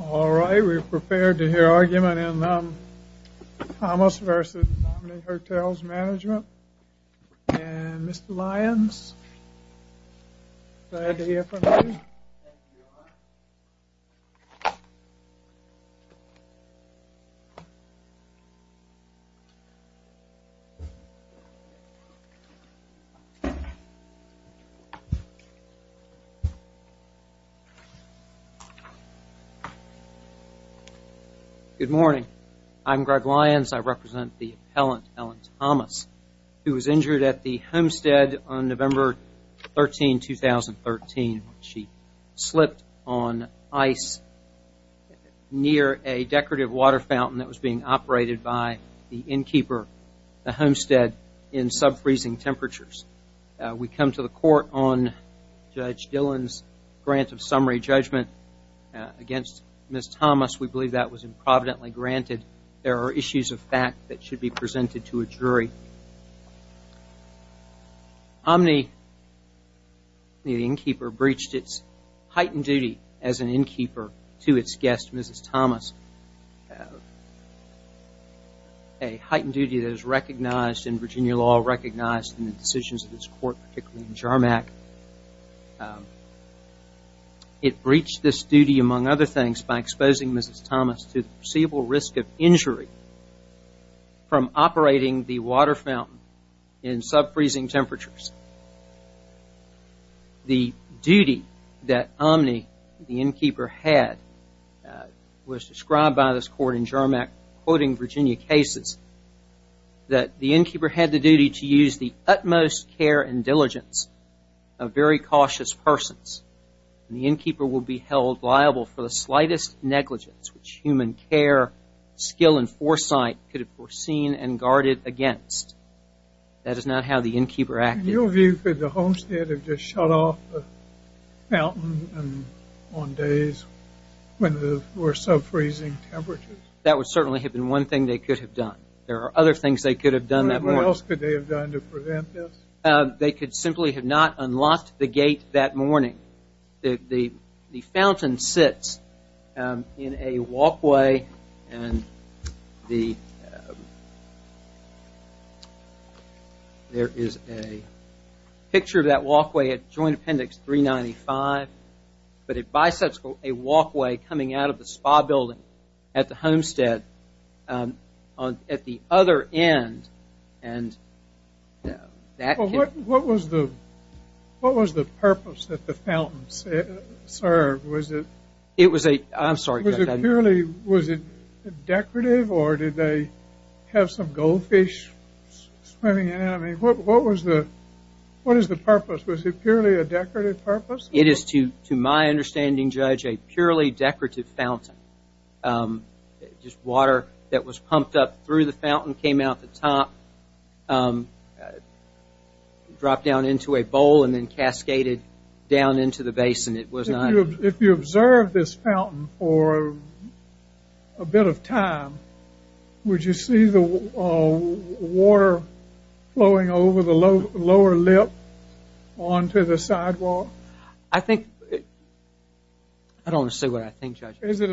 Alright, we are prepared to hear argument in Thomas v. Omni Hotels Mgmt and Mr. Lyons, glad to hear from you. Good morning, I'm Greg Lyons, I represent the appellant, Ellen Thomas, who was injured at the homestead on November 13, 2013. She slipped on ice near a decorative water fountain that was being operated by the innkeeper, the homestead, in sub-freezing temperatures. We come to the court on Judge Dillon's grant of summary judgment against Ms. Thomas. We believe that was improvidently granted. There are issues of fact that should be presented to a jury. Omni, the innkeeper, breached its heightened duty as an innkeeper to its guest, Mrs. Thomas. A heightened duty that is recognized in Virginia law, recognized in the decisions of this court, particularly in JARMAC. It breached this duty, among other things, by exposing Mrs. Thomas to the perceivable risk of injury from operating the water fountain in sub-freezing temperatures. The duty that Omni, the innkeeper, had was described by this court in JARMAC, quoting Virginia cases, that the innkeeper had the duty to use the utmost care and diligence of very cautious persons. The innkeeper will be held liable for the slightest negligence which human care, skill, and foresight could have foreseen and guarded against. That is not how the innkeeper acted. In your view, could the homestead have just shut off the fountain on days when there were sub-freezing temperatures? That would certainly have been one thing they could have done. There are other things they could have done that morning. What else could they have done to prevent this? They could simply have not unlocked the gate that morning. The fountain sits in a walkway and there is a picture of that walkway at Joint Appendix 395, but it bisects a walkway coming out of the spa building at the homestead at the other end. What was the purpose that the fountain served? I'm sorry, Judge. Was it decorative or did they have some goldfish swimming in it? What was the purpose? Was it purely a decorative purpose? It is, to my understanding, Judge, a purely decorative fountain. Just water that was pumped up through the fountain, came out the top, dropped down into a bowl, and then cascaded down into the basin. If you observed this fountain for a bit of time, would you see the water flowing over the lower lip onto the sidewalk? I don't want to say what I think, Judge. Is it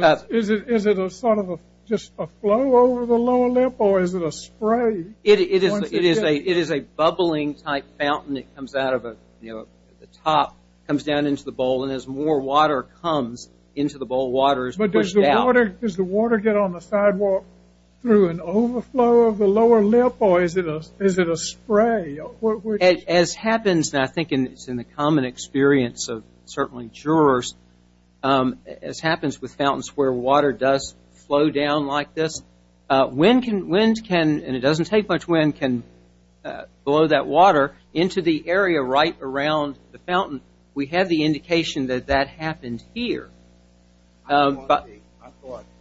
a sort of just a flow over the lower lip or is it a spray? It is a bubbling-type fountain that comes out of the top, comes down into the bowl, and as more water comes into the bowl, water is pushed out. Does the water get on the sidewalk through an overflow of the lower lip or is it a spray? As happens, and I think it's in the common experience of certainly jurors, as happens with fountains where water does flow down like this, wind can, and it doesn't take much wind, can blow that water into the area right around the fountain. We have the indication that that happened here. I thought the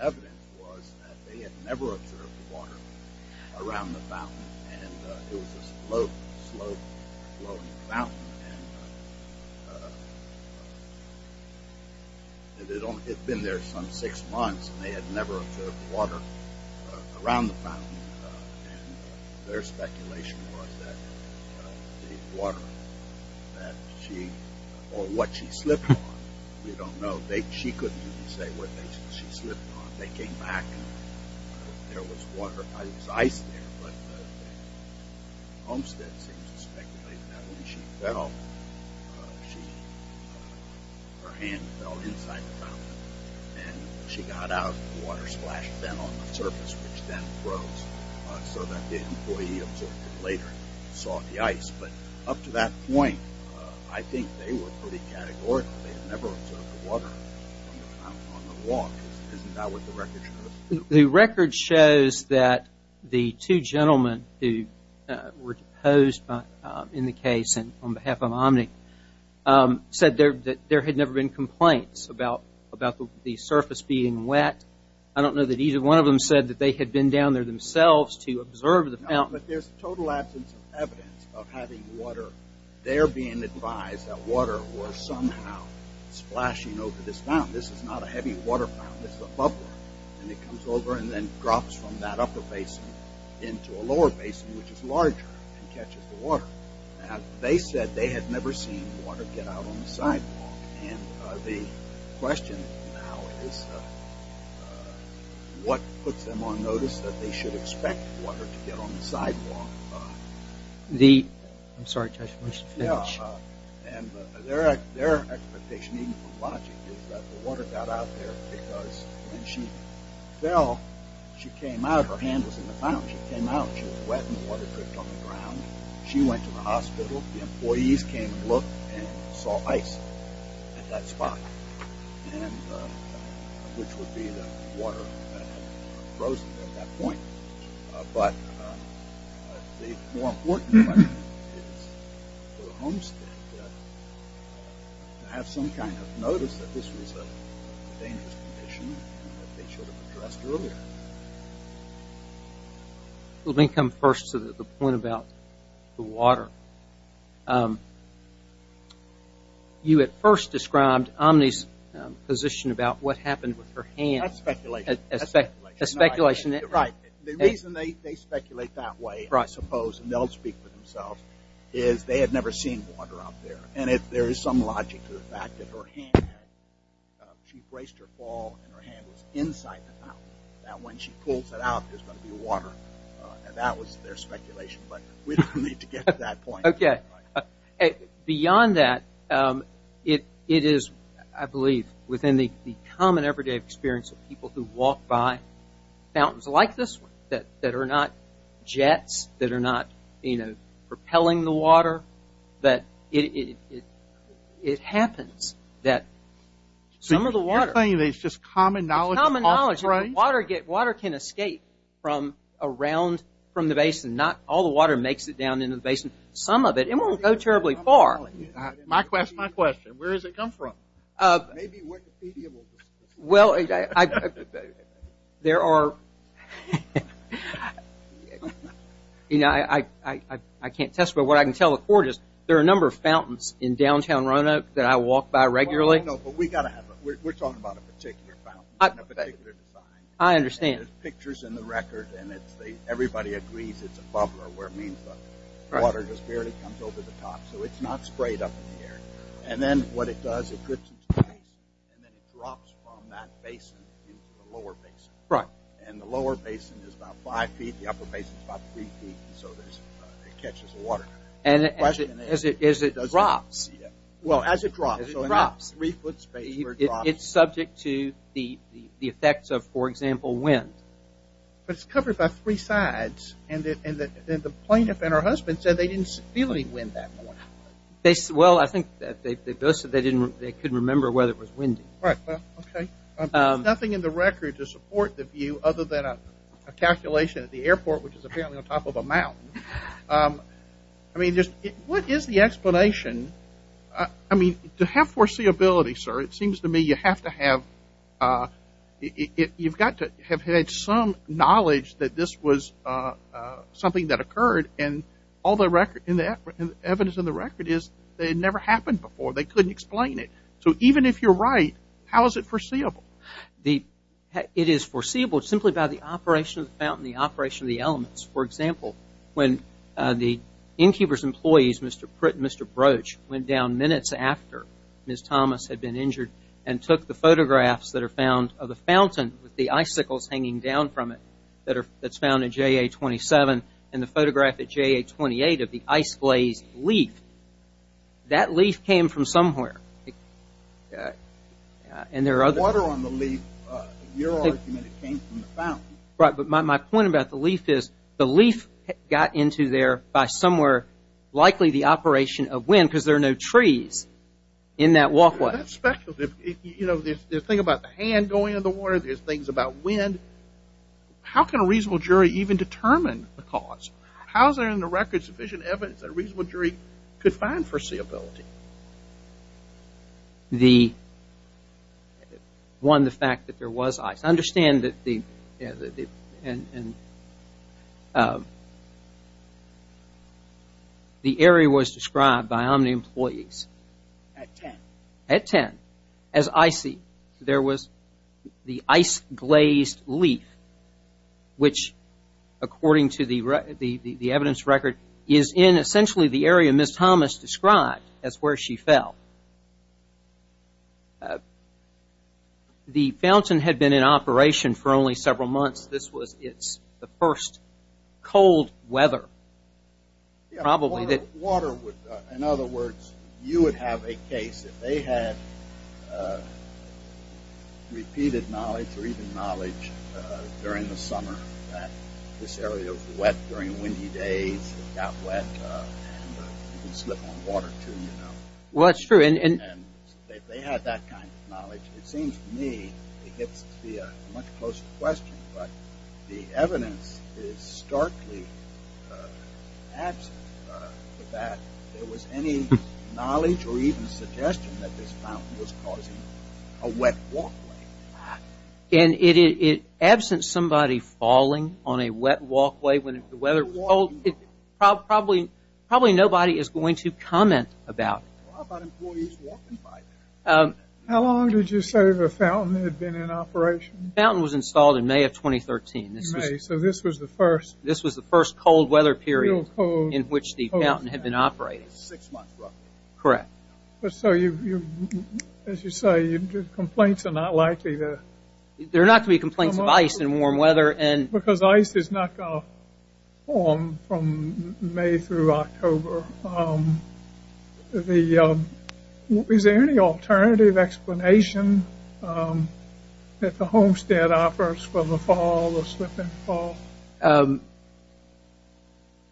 evidence was that they had never observed water around the fountain, and it was a slow-flowing fountain, and it had been there some six months, and they had never observed water around the fountain, and their speculation was that the water that she, or what she slipped on, we don't know. She couldn't even say what she slipped on. They came back, and there was water. It was ice there, but Homestead seems to speculate that when she fell, her hand fell inside the fountain, and when she got out, the water splashed down on the surface, which then froze, so that the employee observed it later and saw the ice. But up to that point, I think they were pretty categorical. They had never observed the water on the walk. Isn't that what the record shows? The record shows that the two gentlemen who were posed in the case on behalf of Omni said that there had never been complaints about the surface being wet. I don't know that either one of them said that they had been down there themselves to observe the fountain. No, but there's total absence of evidence of having water. They're being advised that water was somehow splashing over this fountain. This is not a heavy water fountain. This is a buffer, and it comes over and then drops from that upper basin into a lower basin, which is larger and catches the water. They said they had never seen water get out on the sidewalk, and the question now is what puts them on notice that they should expect water to get on the sidewalk. Their expectation, even from logic, is that the water got out there because when she fell, her hand was in the fountain, she came out, she was wet, and the water dripped on the ground. She went to the hospital. The employees came and looked and saw ice at that spot, which would be the water that had frozen at that point. But the more important thing is for the homestead to have some kind of notice that this was a dangerous condition that they should have addressed earlier. Let me come first to the point about the water. You at first described Omni's position about what happened with her hand. That's speculation. That's speculation. Right. The reason they speculate that way, I suppose, and they'll speak for themselves, is they had never seen water out there. There is some logic to the fact that her hand, she braced her fall and her hand was inside the fountain. When she pulls it out, there's going to be water. That was their speculation, but we don't need to get to that point. Okay. Beyond that, it is, I believe, within the common everyday experience of people who walk by fountains like this one, that are not jets, that are not, you know, propelling the water, that it happens that some of the water- So you're saying that it's just common knowledge- It's common knowledge. Water can escape from around, from the basin. Not all the water makes it down into the basin. Some of it. It won't go terribly far. My question, my question. Where does it come from? Maybe Wikipedia will- Well, there are, you know, I can't testify. What I can tell the court is there are a number of fountains in downtown Roanoke that I walk by regularly. No, but we got to have, we're talking about a particular fountain, a particular design. I understand. And there's pictures in the record, and everybody agrees it's a bubbler, where it means the water just barely comes over the top. So it's not sprayed up in the air. And then what it does, it drips into the basin, and then it drops from that basin into the lower basin. Right. And the lower basin is about five feet, the upper basin is about three feet, and so it catches the water. And as it drops- Well, as it drops. As it drops. So in that three-foot space where it drops- It's subject to the effects of, for example, wind. But it's covered by three sides, and the plaintiff and her husband said they didn't feel any wind that morning. Well, I think they both said they couldn't remember whether it was windy. Right. Well, okay. There's nothing in the record to support the view other than a calculation at the airport, which is apparently on top of a mountain. I mean, what is the explanation? I mean, to have foreseeability, sir, it seems to me you have to have, you've got to have had some knowledge that this was something that occurred. And all the evidence in the record is that it never happened before. They couldn't explain it. So even if you're right, how is it foreseeable? It is foreseeable simply by the operation of the fountain, the operation of the elements. For example, when the innkeeper's employees, Mr. Pritt and Mr. Broach, went down minutes after Ms. Thomas had been injured and took the photographs that are found of the fountain with the icicles hanging down from it that's found in JA-27, and the photograph at JA-28 of the ice-glazed leaf, that leaf came from somewhere. The water on the leaf, your argument, it came from the fountain. Right, but my point about the leaf is the leaf got into there by somewhere, likely the operation of wind, because there are no trees in that walkway. That's speculative. You know, the thing about the hand going in the water, there's things about wind. How can a reasonable jury even determine the cause? How is there in the record sufficient evidence that a reasonable jury could find foreseeability? One, the fact that there was ice. Understand that the area was described by Omni employees. At 10. At 10. As I see, there was the ice-glazed leaf, which according to the evidence record, is in essentially the area Ms. Thomas described as where she fell. The fountain had been in operation for only several months. This was its first cold weather, probably. Yeah, water would, in other words, you would have a case. If they had repeated knowledge or even knowledge during the summer that this area was wet during windy days, it got wet, and you can slip on water too, you know. Well, that's true. If they had that kind of knowledge, it seems to me it gets to be a much closer question, but the evidence is starkly absent that there was any knowledge or even suggestion that this fountain was causing a wet walkway. And absent somebody falling on a wet walkway when the weather was cold, probably nobody is going to comment about it. How long did you say the fountain had been in operation? The fountain was installed in May of 2013. So this was the first? This was the first cold weather period in which the fountain had been operating. Six months, roughly. Correct. So as you say, complaints are not likely to come up? There are not going to be complaints of ice in warm weather. Because ice is not going to form from May through October. Is there any alternative explanation that the Homestead offers for the fall, the slip-and-fall?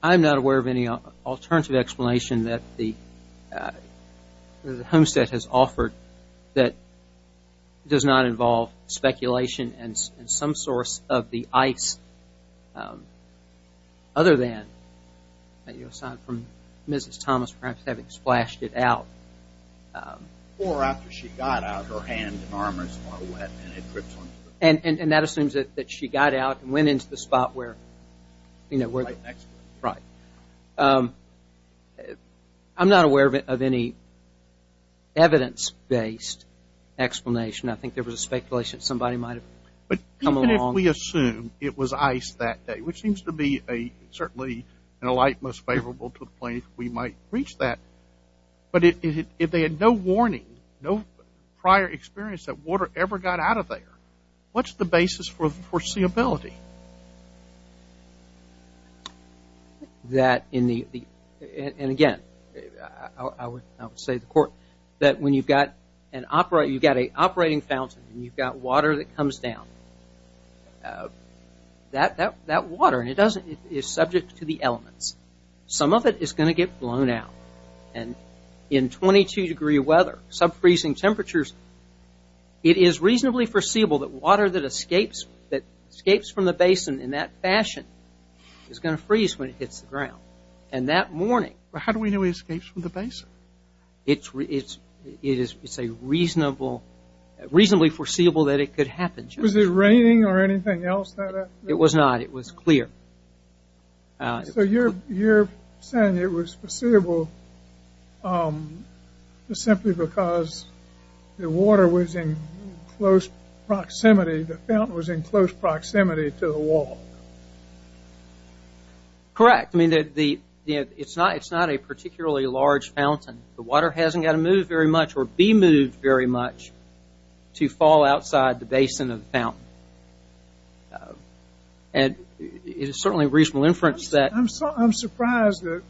I'm not aware of any alternative explanation that the Homestead has offered that does not involve speculation and some source of the ice other than, aside from Mrs. Thomas perhaps having splashed it out. Or after she got out, her hands and arms were wet and it dripped onto the floor. And that assumes that she got out and went into the spot where? Right next to it. Right. I'm not aware of any evidence-based explanation. I think there was a speculation that somebody might have come along. Even if we assume it was ice that day, which seems to be certainly in a light most favorable to the plaintiff, we might reach that. But if they had no warning, no prior experience that water ever got out of there, what's the basis for foreseeability? Again, I would say to the court that when you've got an operating fountain and you've got water that comes down, that water is subject to the elements. Some of it is going to get blown out. And in 22-degree weather, sub-freezing temperatures, it is reasonably foreseeable that water that escapes from the basin in that fashion is going to freeze when it hits the ground. And that morning. How do we know it escapes from the basin? It is reasonably foreseeable that it could happen. Was it raining or anything else? It was not. It was clear. So you're saying it was foreseeable simply because the water was in close proximity, the fountain was in close proximity to the wall. Correct. It's not a particularly large fountain. The water hasn't got to move very much or be moved very much to fall outside the basin of the fountain. And it is certainly reasonable inference that... I'm surprised that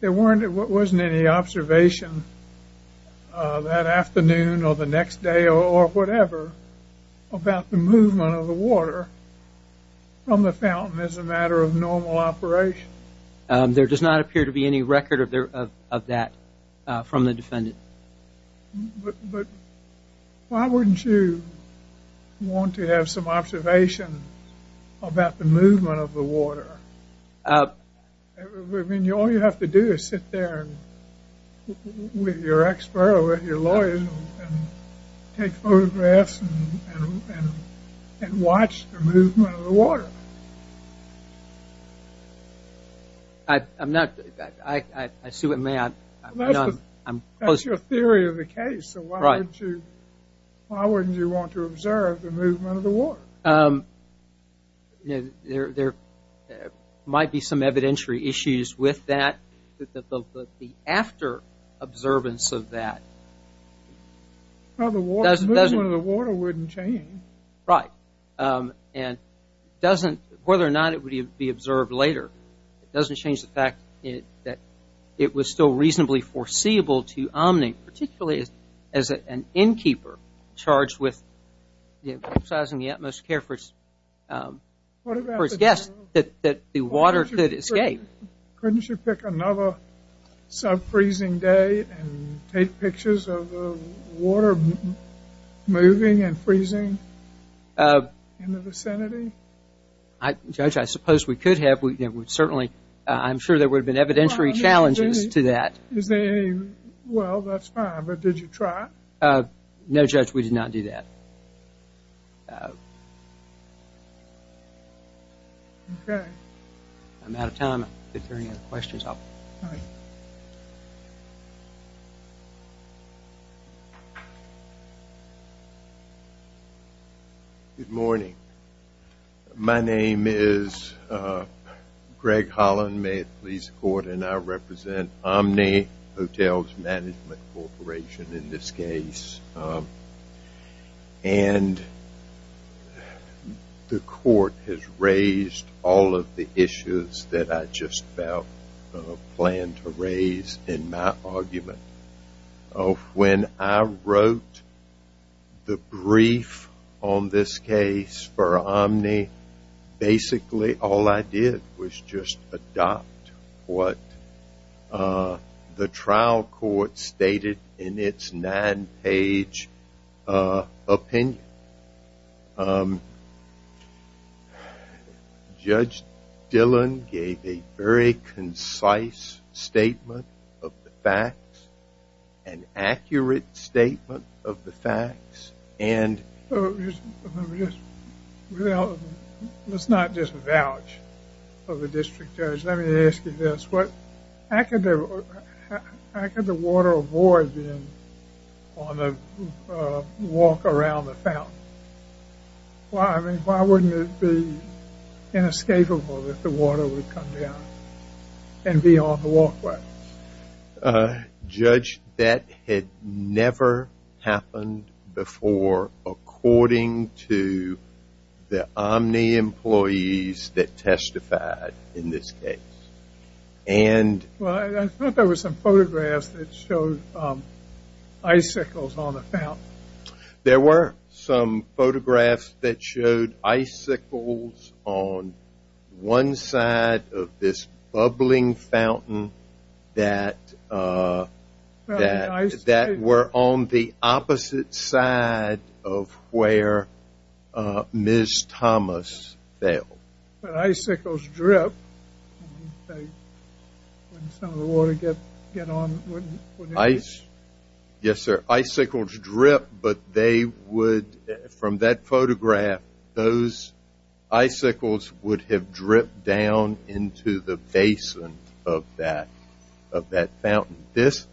there wasn't any observation that afternoon or the next day or whatever about the movement of the water from the fountain as a matter of normal operation. There does not appear to be any record of that from the defendant. But why wouldn't you want to have some observation about the movement of the water? I mean, all you have to do is sit there with your expert or with your lawyer and take photographs and watch the movement of the water. I see what you mean. That's your theory of the case. So why wouldn't you want to observe the movement of the water? There might be some evidentiary issues with that, but the after-observance of that... The movement of the water wouldn't change. Right. And whether or not it would be observed later, it doesn't change the fact that it was still reasonably foreseeable to Omni, particularly as an innkeeper charged with exercising the utmost care for its guests, that the water could escape. Couldn't you pick another sub-freezing day and take pictures of the water moving and freezing in the vicinity? Judge, I suppose we could have. Certainly, I'm sure there would have been evidentiary challenges to that. Well, that's fine, but did you try? No, Judge, we did not do that. Okay. I'm out of time. If there are any other questions, I'll... All right. Thank you. Good morning. My name is Greg Holland, Mayotte Police Court, and I represent Omni Hotels Management Corporation in this case. And the court has raised all of the issues that I just about planned to raise in my argument. When I wrote the brief on this case for Omni, basically all I did was just adopt what the trial court stated in its nine-page opinion. Judge Dillon gave a very concise statement of the facts, an accurate statement of the facts, and... Let's not just vouch for the district judge. Let me ask you this. How could the water avoid being on the walk around the fountain? Why wouldn't it be inescapable that the water would come down and be on the walkway? Judge, that had never happened before according to the Omni employees that testified in this case. And... Well, I thought there were some photographs that showed icicles on the fountain. That were on the opposite side of where Ms. Thomas fell. But icicles drip. Wouldn't some of the water get on... Yes, sir. From that photograph, those icicles would have dripped down into the basin of that fountain. This,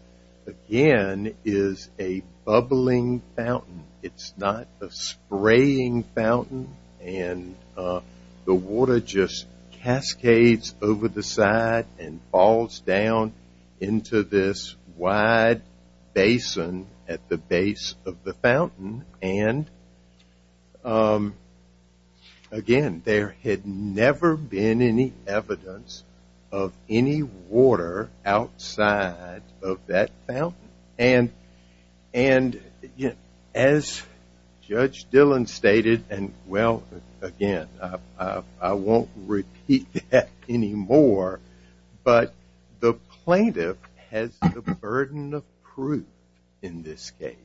again, is a bubbling fountain. It's not a spraying fountain. And the water just cascades over the side and falls down into this wide basin at the base of the fountain. And, again, there had never been any evidence of any water outside of that fountain. And, as Judge Dillon stated, and, well, again, I won't repeat that anymore. But the plaintiff has the burden of proof in this case.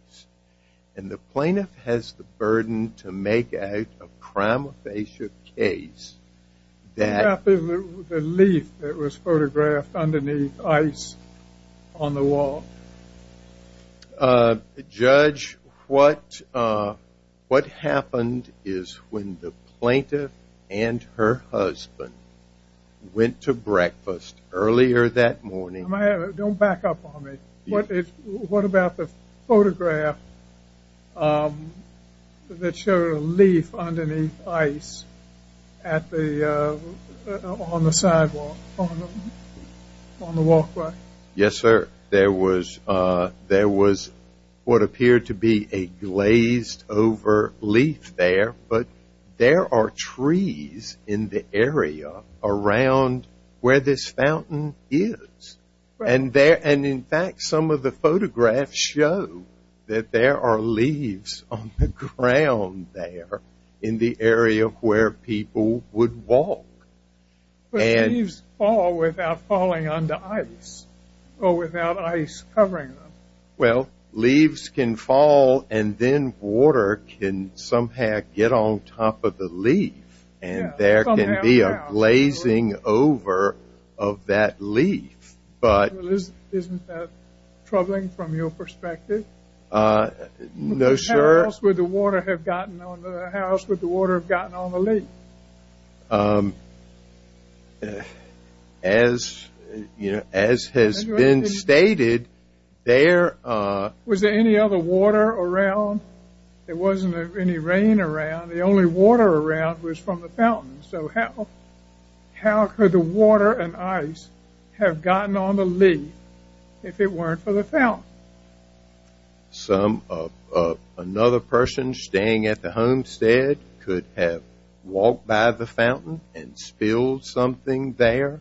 And the plaintiff has the burden to make out a prima facie case that... Judge, what happened is when the plaintiff and her husband went to breakfast earlier that morning... Don't back up on me. What about the photograph that showed a leaf underneath ice on the sidewalk, on the walkway? Yes, sir. There was what appeared to be a glazed-over leaf there. But there are trees in the area around where this fountain is. And, in fact, some of the photographs show that there are leaves on the ground there in the area where people would walk. But leaves fall without falling onto ice or without ice covering them. Well, leaves can fall and then water can somehow get on top of the leaf. And there can be a glazing over of that leaf. Isn't that troubling from your perspective? No, sir. How else would the water have gotten on the leaf? As has been stated, there... Was there any other water around? There wasn't any rain around. The only water around was from the fountain. So how could the water and ice have gotten on the leaf if it weren't for the fountain? Another person staying at the homestead could have walked by the fountain and spilled something there?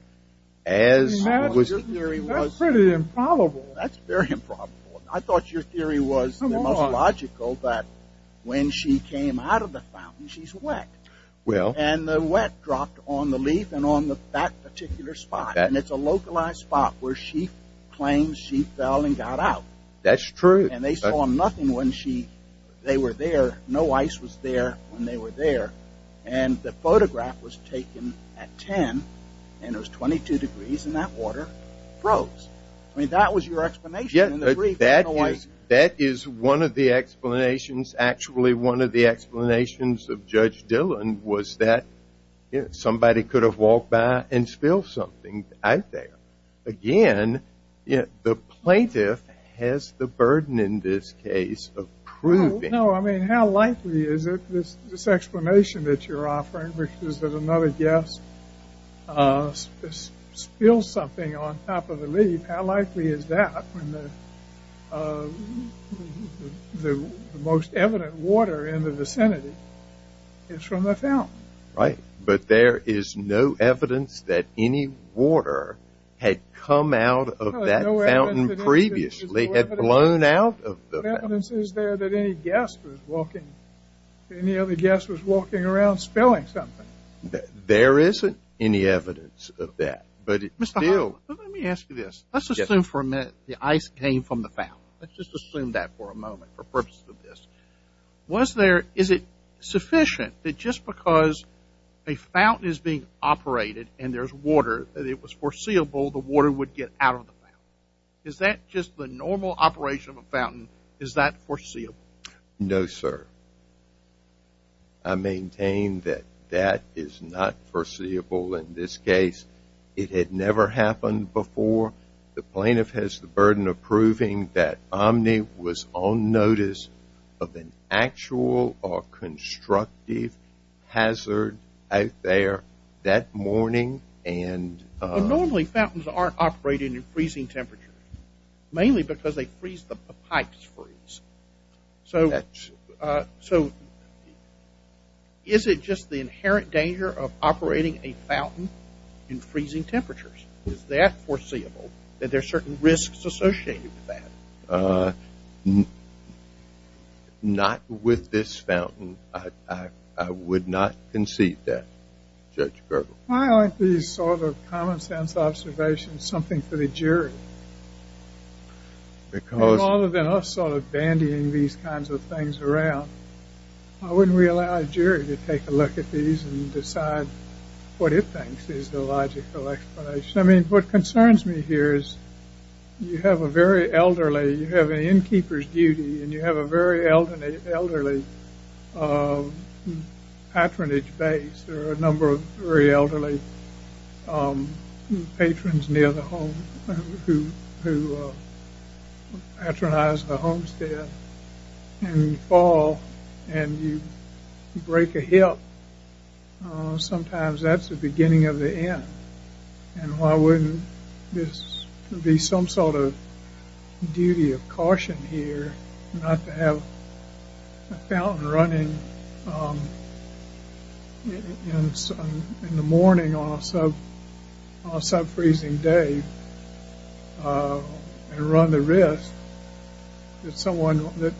That's pretty improbable. That's very improbable. I thought your theory was the most logical, that when she came out of the fountain, she's wet. And the wet dropped on the leaf and on that particular spot. And it's a localized spot where she claims she fell and got out. That's true. And they saw nothing when they were there. No ice was there when they were there. And the photograph was taken at 10, and it was 22 degrees, and that water froze. I mean, that was your explanation. That is one of the explanations. Actually, one of the explanations of Judge Dillon was that somebody could have walked by and spilled something. Again, the plaintiff has the burden in this case of proving. No, I mean, how likely is it, this explanation that you're offering, which is that another guest spills something on top of the leaf, how likely is that when the most evident water in the vicinity is from the fountain? Right. But there is no evidence that any water had come out of that fountain previously, had blown out of the fountain. What evidence is there that any other guest was walking around spilling something? There isn't any evidence of that. But still, let me ask you this. Let's assume for a minute the ice came from the fountain. Let's just assume that for a moment for purposes of this. Is it sufficient that just because a fountain is being operated and there's water, that it was foreseeable the water would get out of the fountain? Is that just the normal operation of a fountain? Is that foreseeable? No, sir. I maintain that that is not foreseeable in this case. It had never happened before. The plaintiff has the burden of proving that Omni was on notice of an actual or constructive hazard out there that morning. Normally, fountains aren't operated in freezing temperatures, mainly because they freeze the pipes. So is it just the inherent danger of operating a fountain in freezing temperatures? Is that foreseeable, that there are certain risks associated with that? Not with this fountain. I would not concede that, Judge Gergel. Why aren't these sort of common-sense observations something for the jury? Rather than us sort of bandying these kinds of things around, I wouldn't really allow a jury to take a look at these and decide what it thinks is the logical explanation. I mean, what concerns me here is you have a very elderly, you have an innkeeper's duty, and you have a very elderly patronage base. There are a number of very elderly patrons near the home who patronize the homestead. And you fall and you break a hip. Sometimes that's the beginning of the end. And why wouldn't this be some sort of duty of caution here, not to have a fountain running in the morning on a sub-freezing day and run the risk that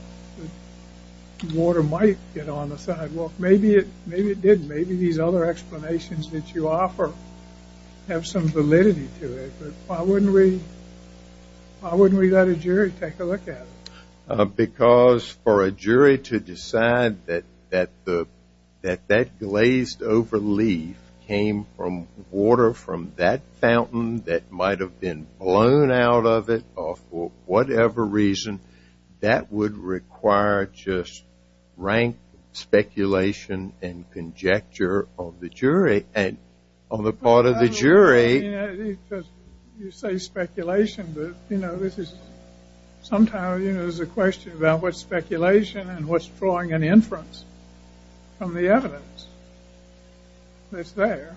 water might get on the sidewalk? Maybe it didn't. Maybe these other explanations that you offer have some validity to it. But why wouldn't we let a jury take a look at it? Because for a jury to decide that that glazed-over leaf came from water from that fountain that might have been blown out of it or for whatever reason, that would require just rank speculation and conjecture on the part of the jury. You say speculation, but sometimes there's a question about what's speculation and what's drawing an inference from the evidence that's there.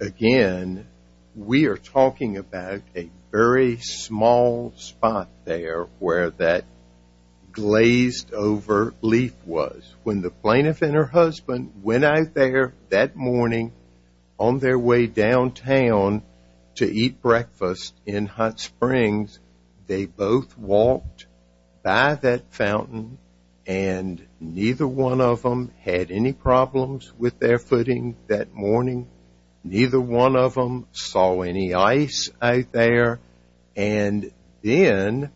Again, we are talking about a very small spot there where that glazed-over leaf was. When the plaintiff and her husband went out there that morning on their way downtown to eat breakfast in Hot Springs, they both walked by that fountain and neither one of them had any problems with their footing that morning. Neither one of them saw any ice out there. And then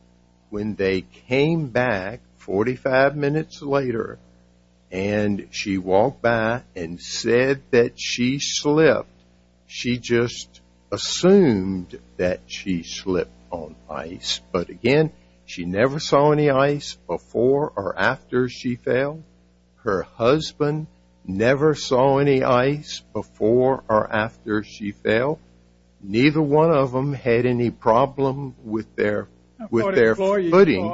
when they came back 45 minutes later and she walked by and said that she slipped, she just assumed that she slipped on ice. But again, she never saw any ice before or after she fell. Her husband never saw any ice before or after she fell. Neither one of them had any problem with their footing.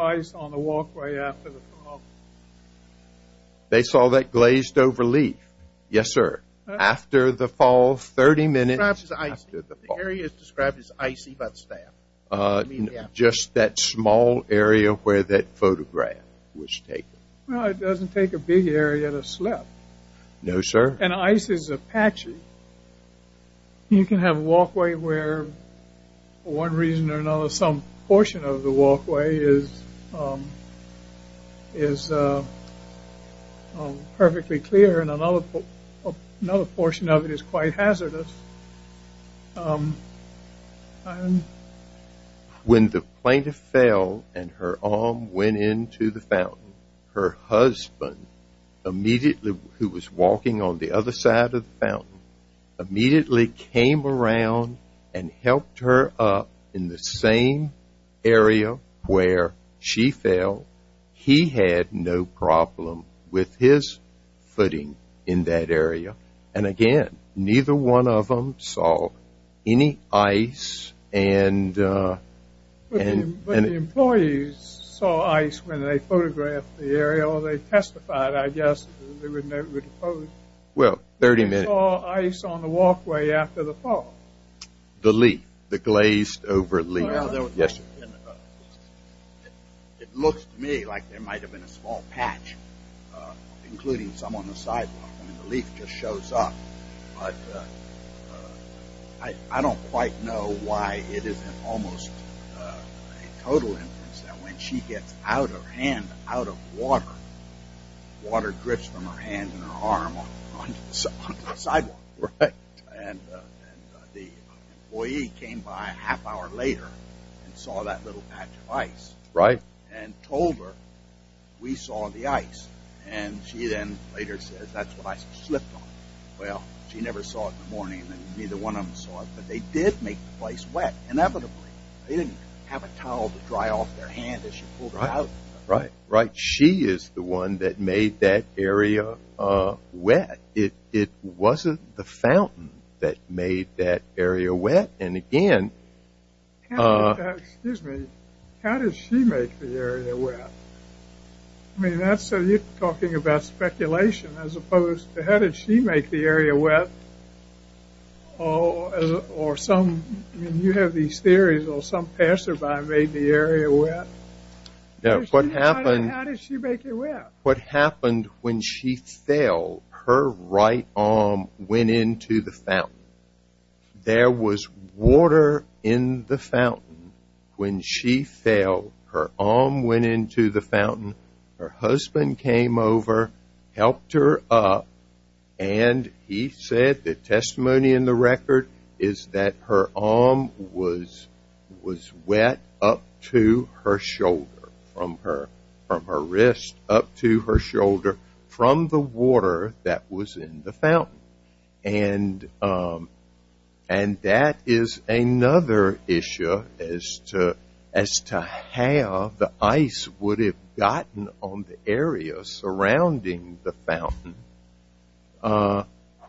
They saw that glazed-over leaf. Yes, sir. The area is described as icy, but staff? Just that small area where that photograph was taken. Well, it doesn't take a big area to slip. No, sir. And ice is a patchy. You can have a walkway where for one reason or another some portion of the walkway is perfectly clear and another portion of it is quite hazardous. When the plaintiff fell and her arm went into the fountain, her husband immediately, who was walking on the other side of the fountain, immediately came around and helped her up in the same area where she fell. He had no problem with his footing in that area. And again, neither one of them saw any ice. But the employees saw ice when they photographed the area or they testified, I guess, that they would never dispose. Well, 30 minutes. They saw ice on the walkway after the fall. The leaf, the glazed-over leaf. Yes, sir. It looks to me like there might have been a small patch, including some on the sidewalk. I mean, the leaf just shows up. But I don't quite know why it isn't almost a total inference that when she gets out of hand, out of water, water drips from her hand and her arm onto the sidewalk. Right. And the employee came by a half hour later and saw that little patch of ice. Right. And told her, we saw the ice. And she then later said, that's what I slipped on. Well, she never saw it in the morning and neither one of them saw it. But they did make the place wet, inevitably. They didn't have a towel to dry off their hand as she pulled it out. Right, right. She is the one that made that area wet. But it wasn't the fountain that made that area wet. And again, Excuse me. How did she make the area wet? I mean, you're talking about speculation as opposed to how did she make the area wet? Or some, you have these theories, or some passerby made the area wet. How did she make it wet? What happened when she fell, her right arm went into the fountain. There was water in the fountain. When she fell, her arm went into the fountain. Her husband came over, helped her up, and he said the testimony in the record is that her arm was wet up to her shoulder, from her wrist up to her shoulder from the water that was in the fountain. And that is another issue as to how the ice would have gotten on the area surrounding the fountain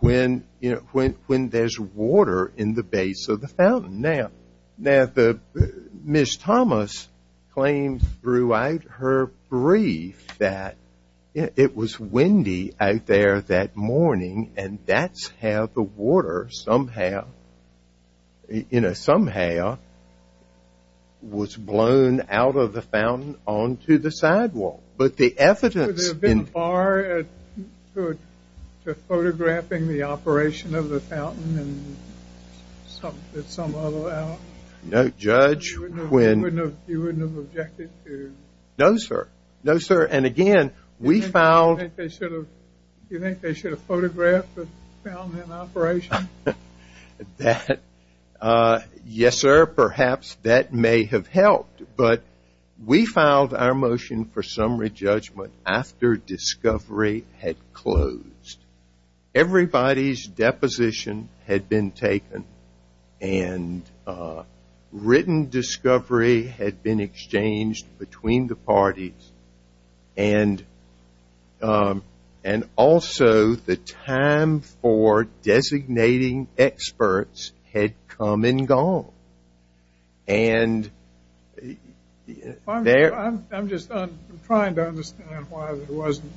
when there's water in the base of the fountain. Now, Ms. Thomas claims throughout her brief that it was windy out there that morning and that's how the water somehow, you know, somehow, was blown out of the fountain onto the sidewalk. But the evidence... Was there a bar to photographing the operation of the fountain? No, Judge. You wouldn't have objected to... No, sir. No, sir. And again, we found... Do you think they should have photographed the fountain in operation? Yes, sir. Perhaps that may have helped. But we filed our motion for summary judgment after discovery had closed. Everybody's deposition had been taken and written discovery had been exchanged between the parties and also the time for designating experts had come and gone. And... I'm just trying to understand why there wasn't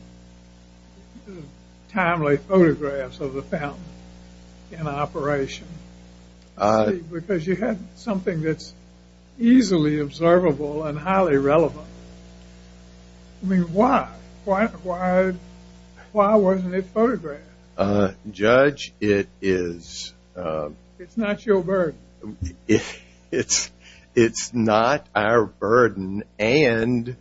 timely photographs of the fountain in operation. Because you had something that's easily observable and highly relevant. I mean, why? Why wasn't it photographed? Judge, it is... It's not your burden. It's not our burden. And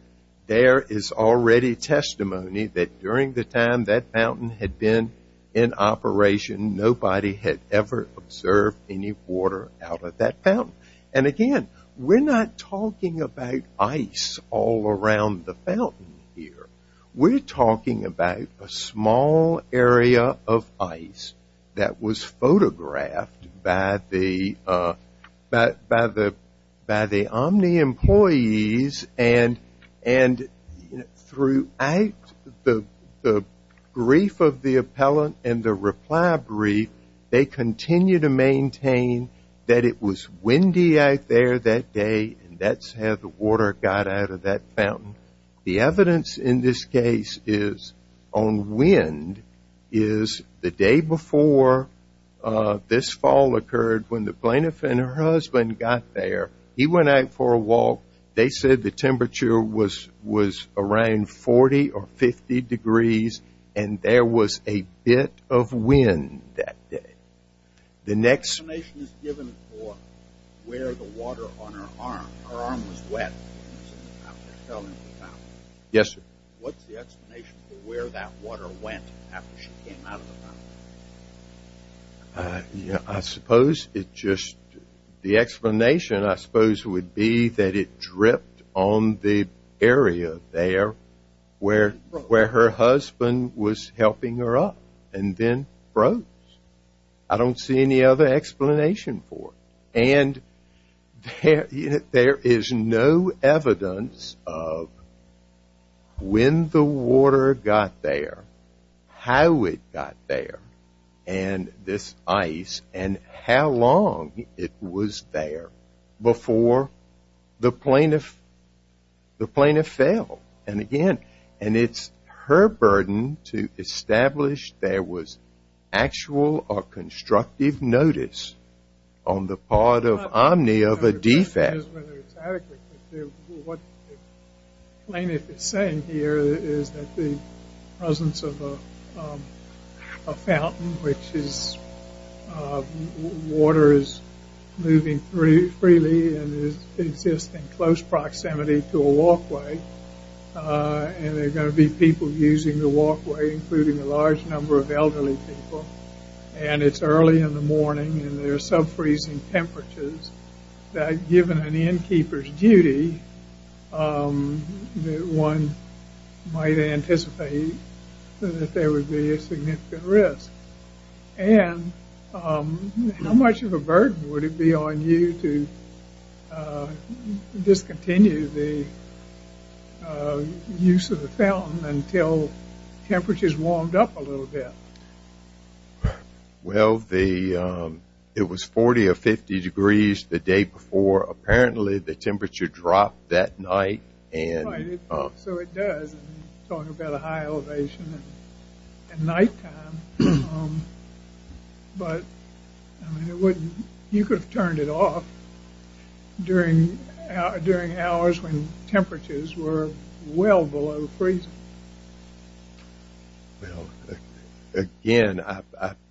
there is already testimony that during the time that fountain had been in operation, nobody had ever observed any water out of that fountain. And again, we're not talking about ice all around the fountain here. We're talking about a small area of ice that was photographed by the Omni employees. And throughout the brief of the appellant and the reply brief, they continue to maintain that it was windy out there that day, and that's how the water got out of that fountain. The evidence in this case is on wind is the day before this fall occurred, when the plaintiff and her husband got there. He went out for a walk. They said the temperature was around 40 or 50 degrees, and there was a bit of wind that day. The next... This is given for where the water on her arm... Her arm was wet. Yes, sir. What's the explanation for where that water went after she came out of the fountain? I suppose it just... The explanation, I suppose, would be that it dripped on the area there where her husband was helping her up and then froze. I don't see any other explanation for it. And there is no evidence of when the water got there, how it got there, and this ice, and how long it was there before the plaintiff fell. And again, it's her burden to establish there was actual or constructive notice on the part of Omni of a defect. What the plaintiff is saying here is that the presence of a fountain, which is... Water is moving freely and exists in close proximity to a walkway. And there are going to be people using the walkway, including a large number of elderly people. And it's early in the morning, and there are sub-freezing temperatures that, given an innkeeper's duty, one might anticipate that there would be a significant risk. And how much of a burden would it be on you to discontinue the use of the fountain until temperatures warmed up a little bit? Well, it was 40 or 50 degrees the day before. Apparently, the temperature dropped that night. Right, so it does. We're talking about a high elevation at nighttime. But you could have turned it off during hours when temperatures were well below freezing. Well, again,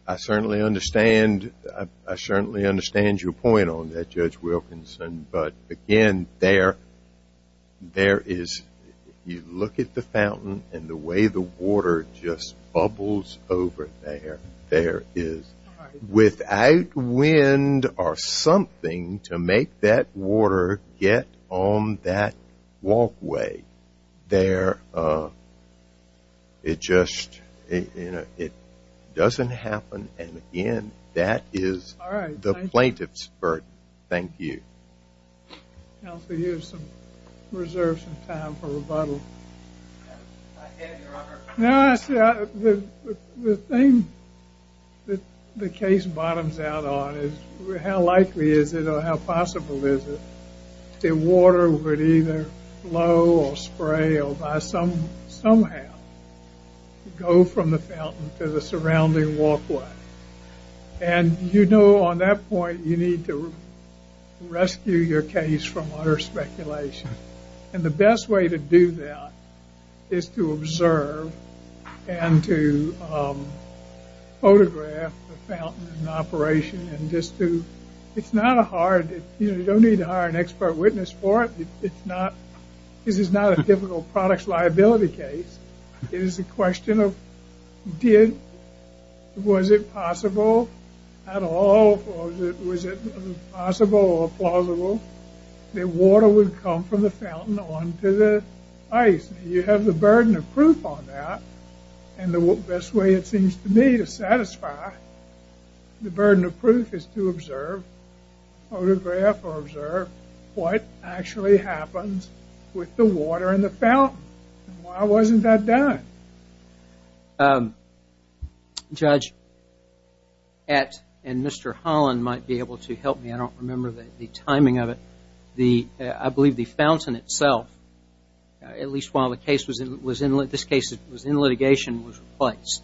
I certainly understand your point on that, Judge Wilkins. But, again, there is... You look at the fountain and the way the water just bubbles over there. There is, without wind or something, to make that water get on that walkway. There... It just... It doesn't happen. And, again, that is the plaintiff's burden. Thank you. Counsel, you have some reserve, some time for rebuttal. I have, Your Honor. The thing that the case bottoms out on is how likely is it or how possible is it that water would either flow or spray or by some... somehow go from the fountain to the surrounding walkway? And you know on that point you need to rescue your case from utter speculation. And the best way to do that is to observe and to photograph the fountain in operation and just to... It's not a hard... You don't need to hire an expert witness for it. It's not... This is not a typical products liability case. It is a question of did... Was it possible at all? Was it possible or plausible that water would come from the fountain onto the ice? You have the burden of proof on that. And the best way, it seems to me, to satisfy the burden of proof is to observe, photograph or observe what actually happens with the water in the fountain. Why wasn't that done? Um... Judge... Ette and Mr. Holland might be able to help me. I don't remember the timing of it. The... I believe the fountain itself at least while the case was in... This case was in litigation was replaced.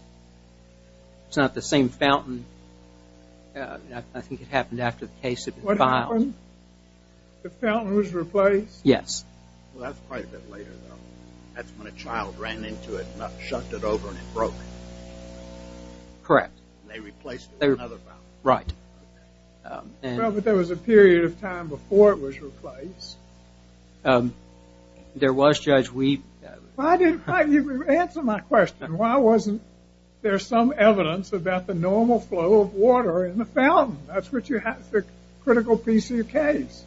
It's not the same fountain. I think it happened after the case had been filed. What happened? The fountain was replaced? Yes. Well, that's quite a bit later though. That's when a child ran into it and shut it over and it broke. Correct. And they replaced it with another fountain. Right. Well, but there was a period of time before it was replaced. Um... There was, Judge, we... Why didn't you answer my question? Why wasn't there some evidence about the normal flow of water in the fountain? That's what you have for a critical piece of your case.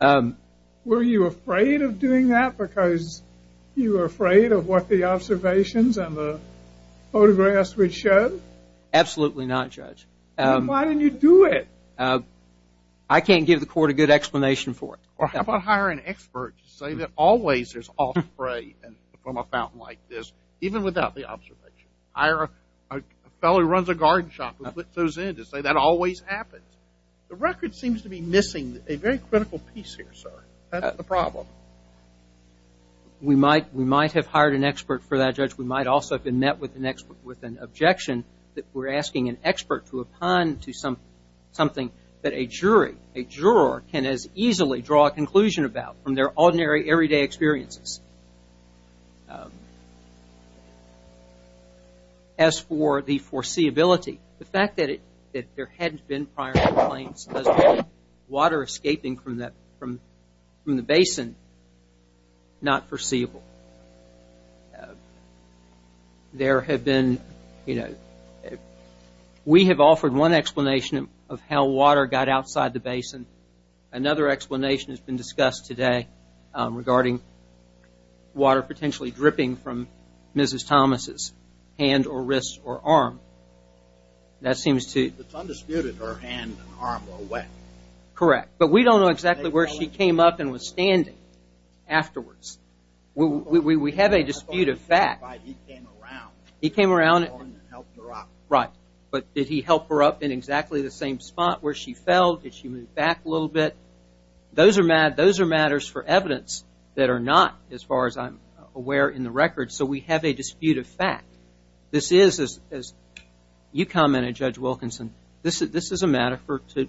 Um... Were you afraid of doing that because you were afraid of what the observations and the photographs would show? Absolutely not, Judge. Then why didn't you do it? I can't give the court a good explanation for it. How about hiring experts to say that always there's off spray from a fountain like this even without the observation? Hire a fellow who runs a garden shop who puts those in to say that always happens. The record seems to be missing a very critical piece here, sir. That's the problem. We might have hired an expert for that, Judge. We might also have been met with an objection that we're asking an expert to opine to something that a jury, a juror, can as easily draw a conclusion about from their ordinary, everyday experiences. As for the foreseeability, the fact that there hadn't been prior complaints about water escaping from the basin, not foreseeable. There had been, you know... We have offered one explanation of how water got outside the basin. Another explanation has been discussed today regarding water potentially dripping from Mrs. Thomas' hand or wrist or arm. That seems to... Correct, but we don't know exactly where she came up and was standing afterwards. We have a dispute of fact. He came around and helped her up. Right, but did he help her up in exactly the same spot where she fell? Did she move back a little bit? Those are matters for evidence that are not, as far as I'm aware, in the record, so we have a dispute of fact. This is, as you commented, Judge Wilkinson, this is a matter to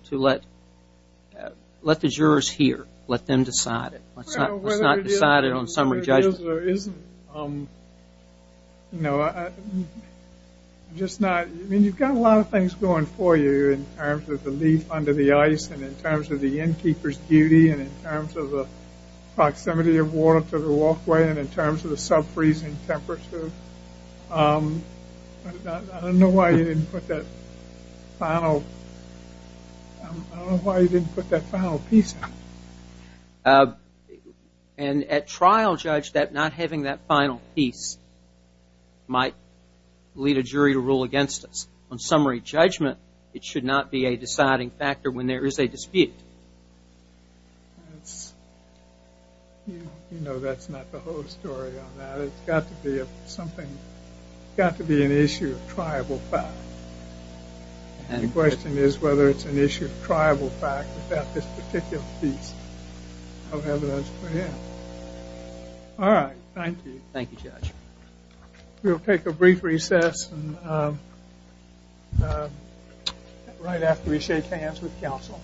let the jurors hear, let them decide it. Let's not decide it on summary judgment. You've got a lot of things going for you in terms of the leaf under the ice and in terms of the innkeeper's duty and in terms of the proximity of water to the walkway and in terms of the sub-freezing temperature. I don't know why you didn't put that final... I don't know why you didn't put that final piece in. And at trial, Judge, not having that final piece might lead a jury to rule against us. On summary judgment, it should not be a deciding factor when there is a dispute. You know that's not the whole story on that. It's got to be something... It's got to be an issue of triable fact. The question is whether it's an issue of triable fact about this particular piece of evidence for him. All right, thank you. Thank you, Judge. We'll take a brief recess right after we shake hands with counsel.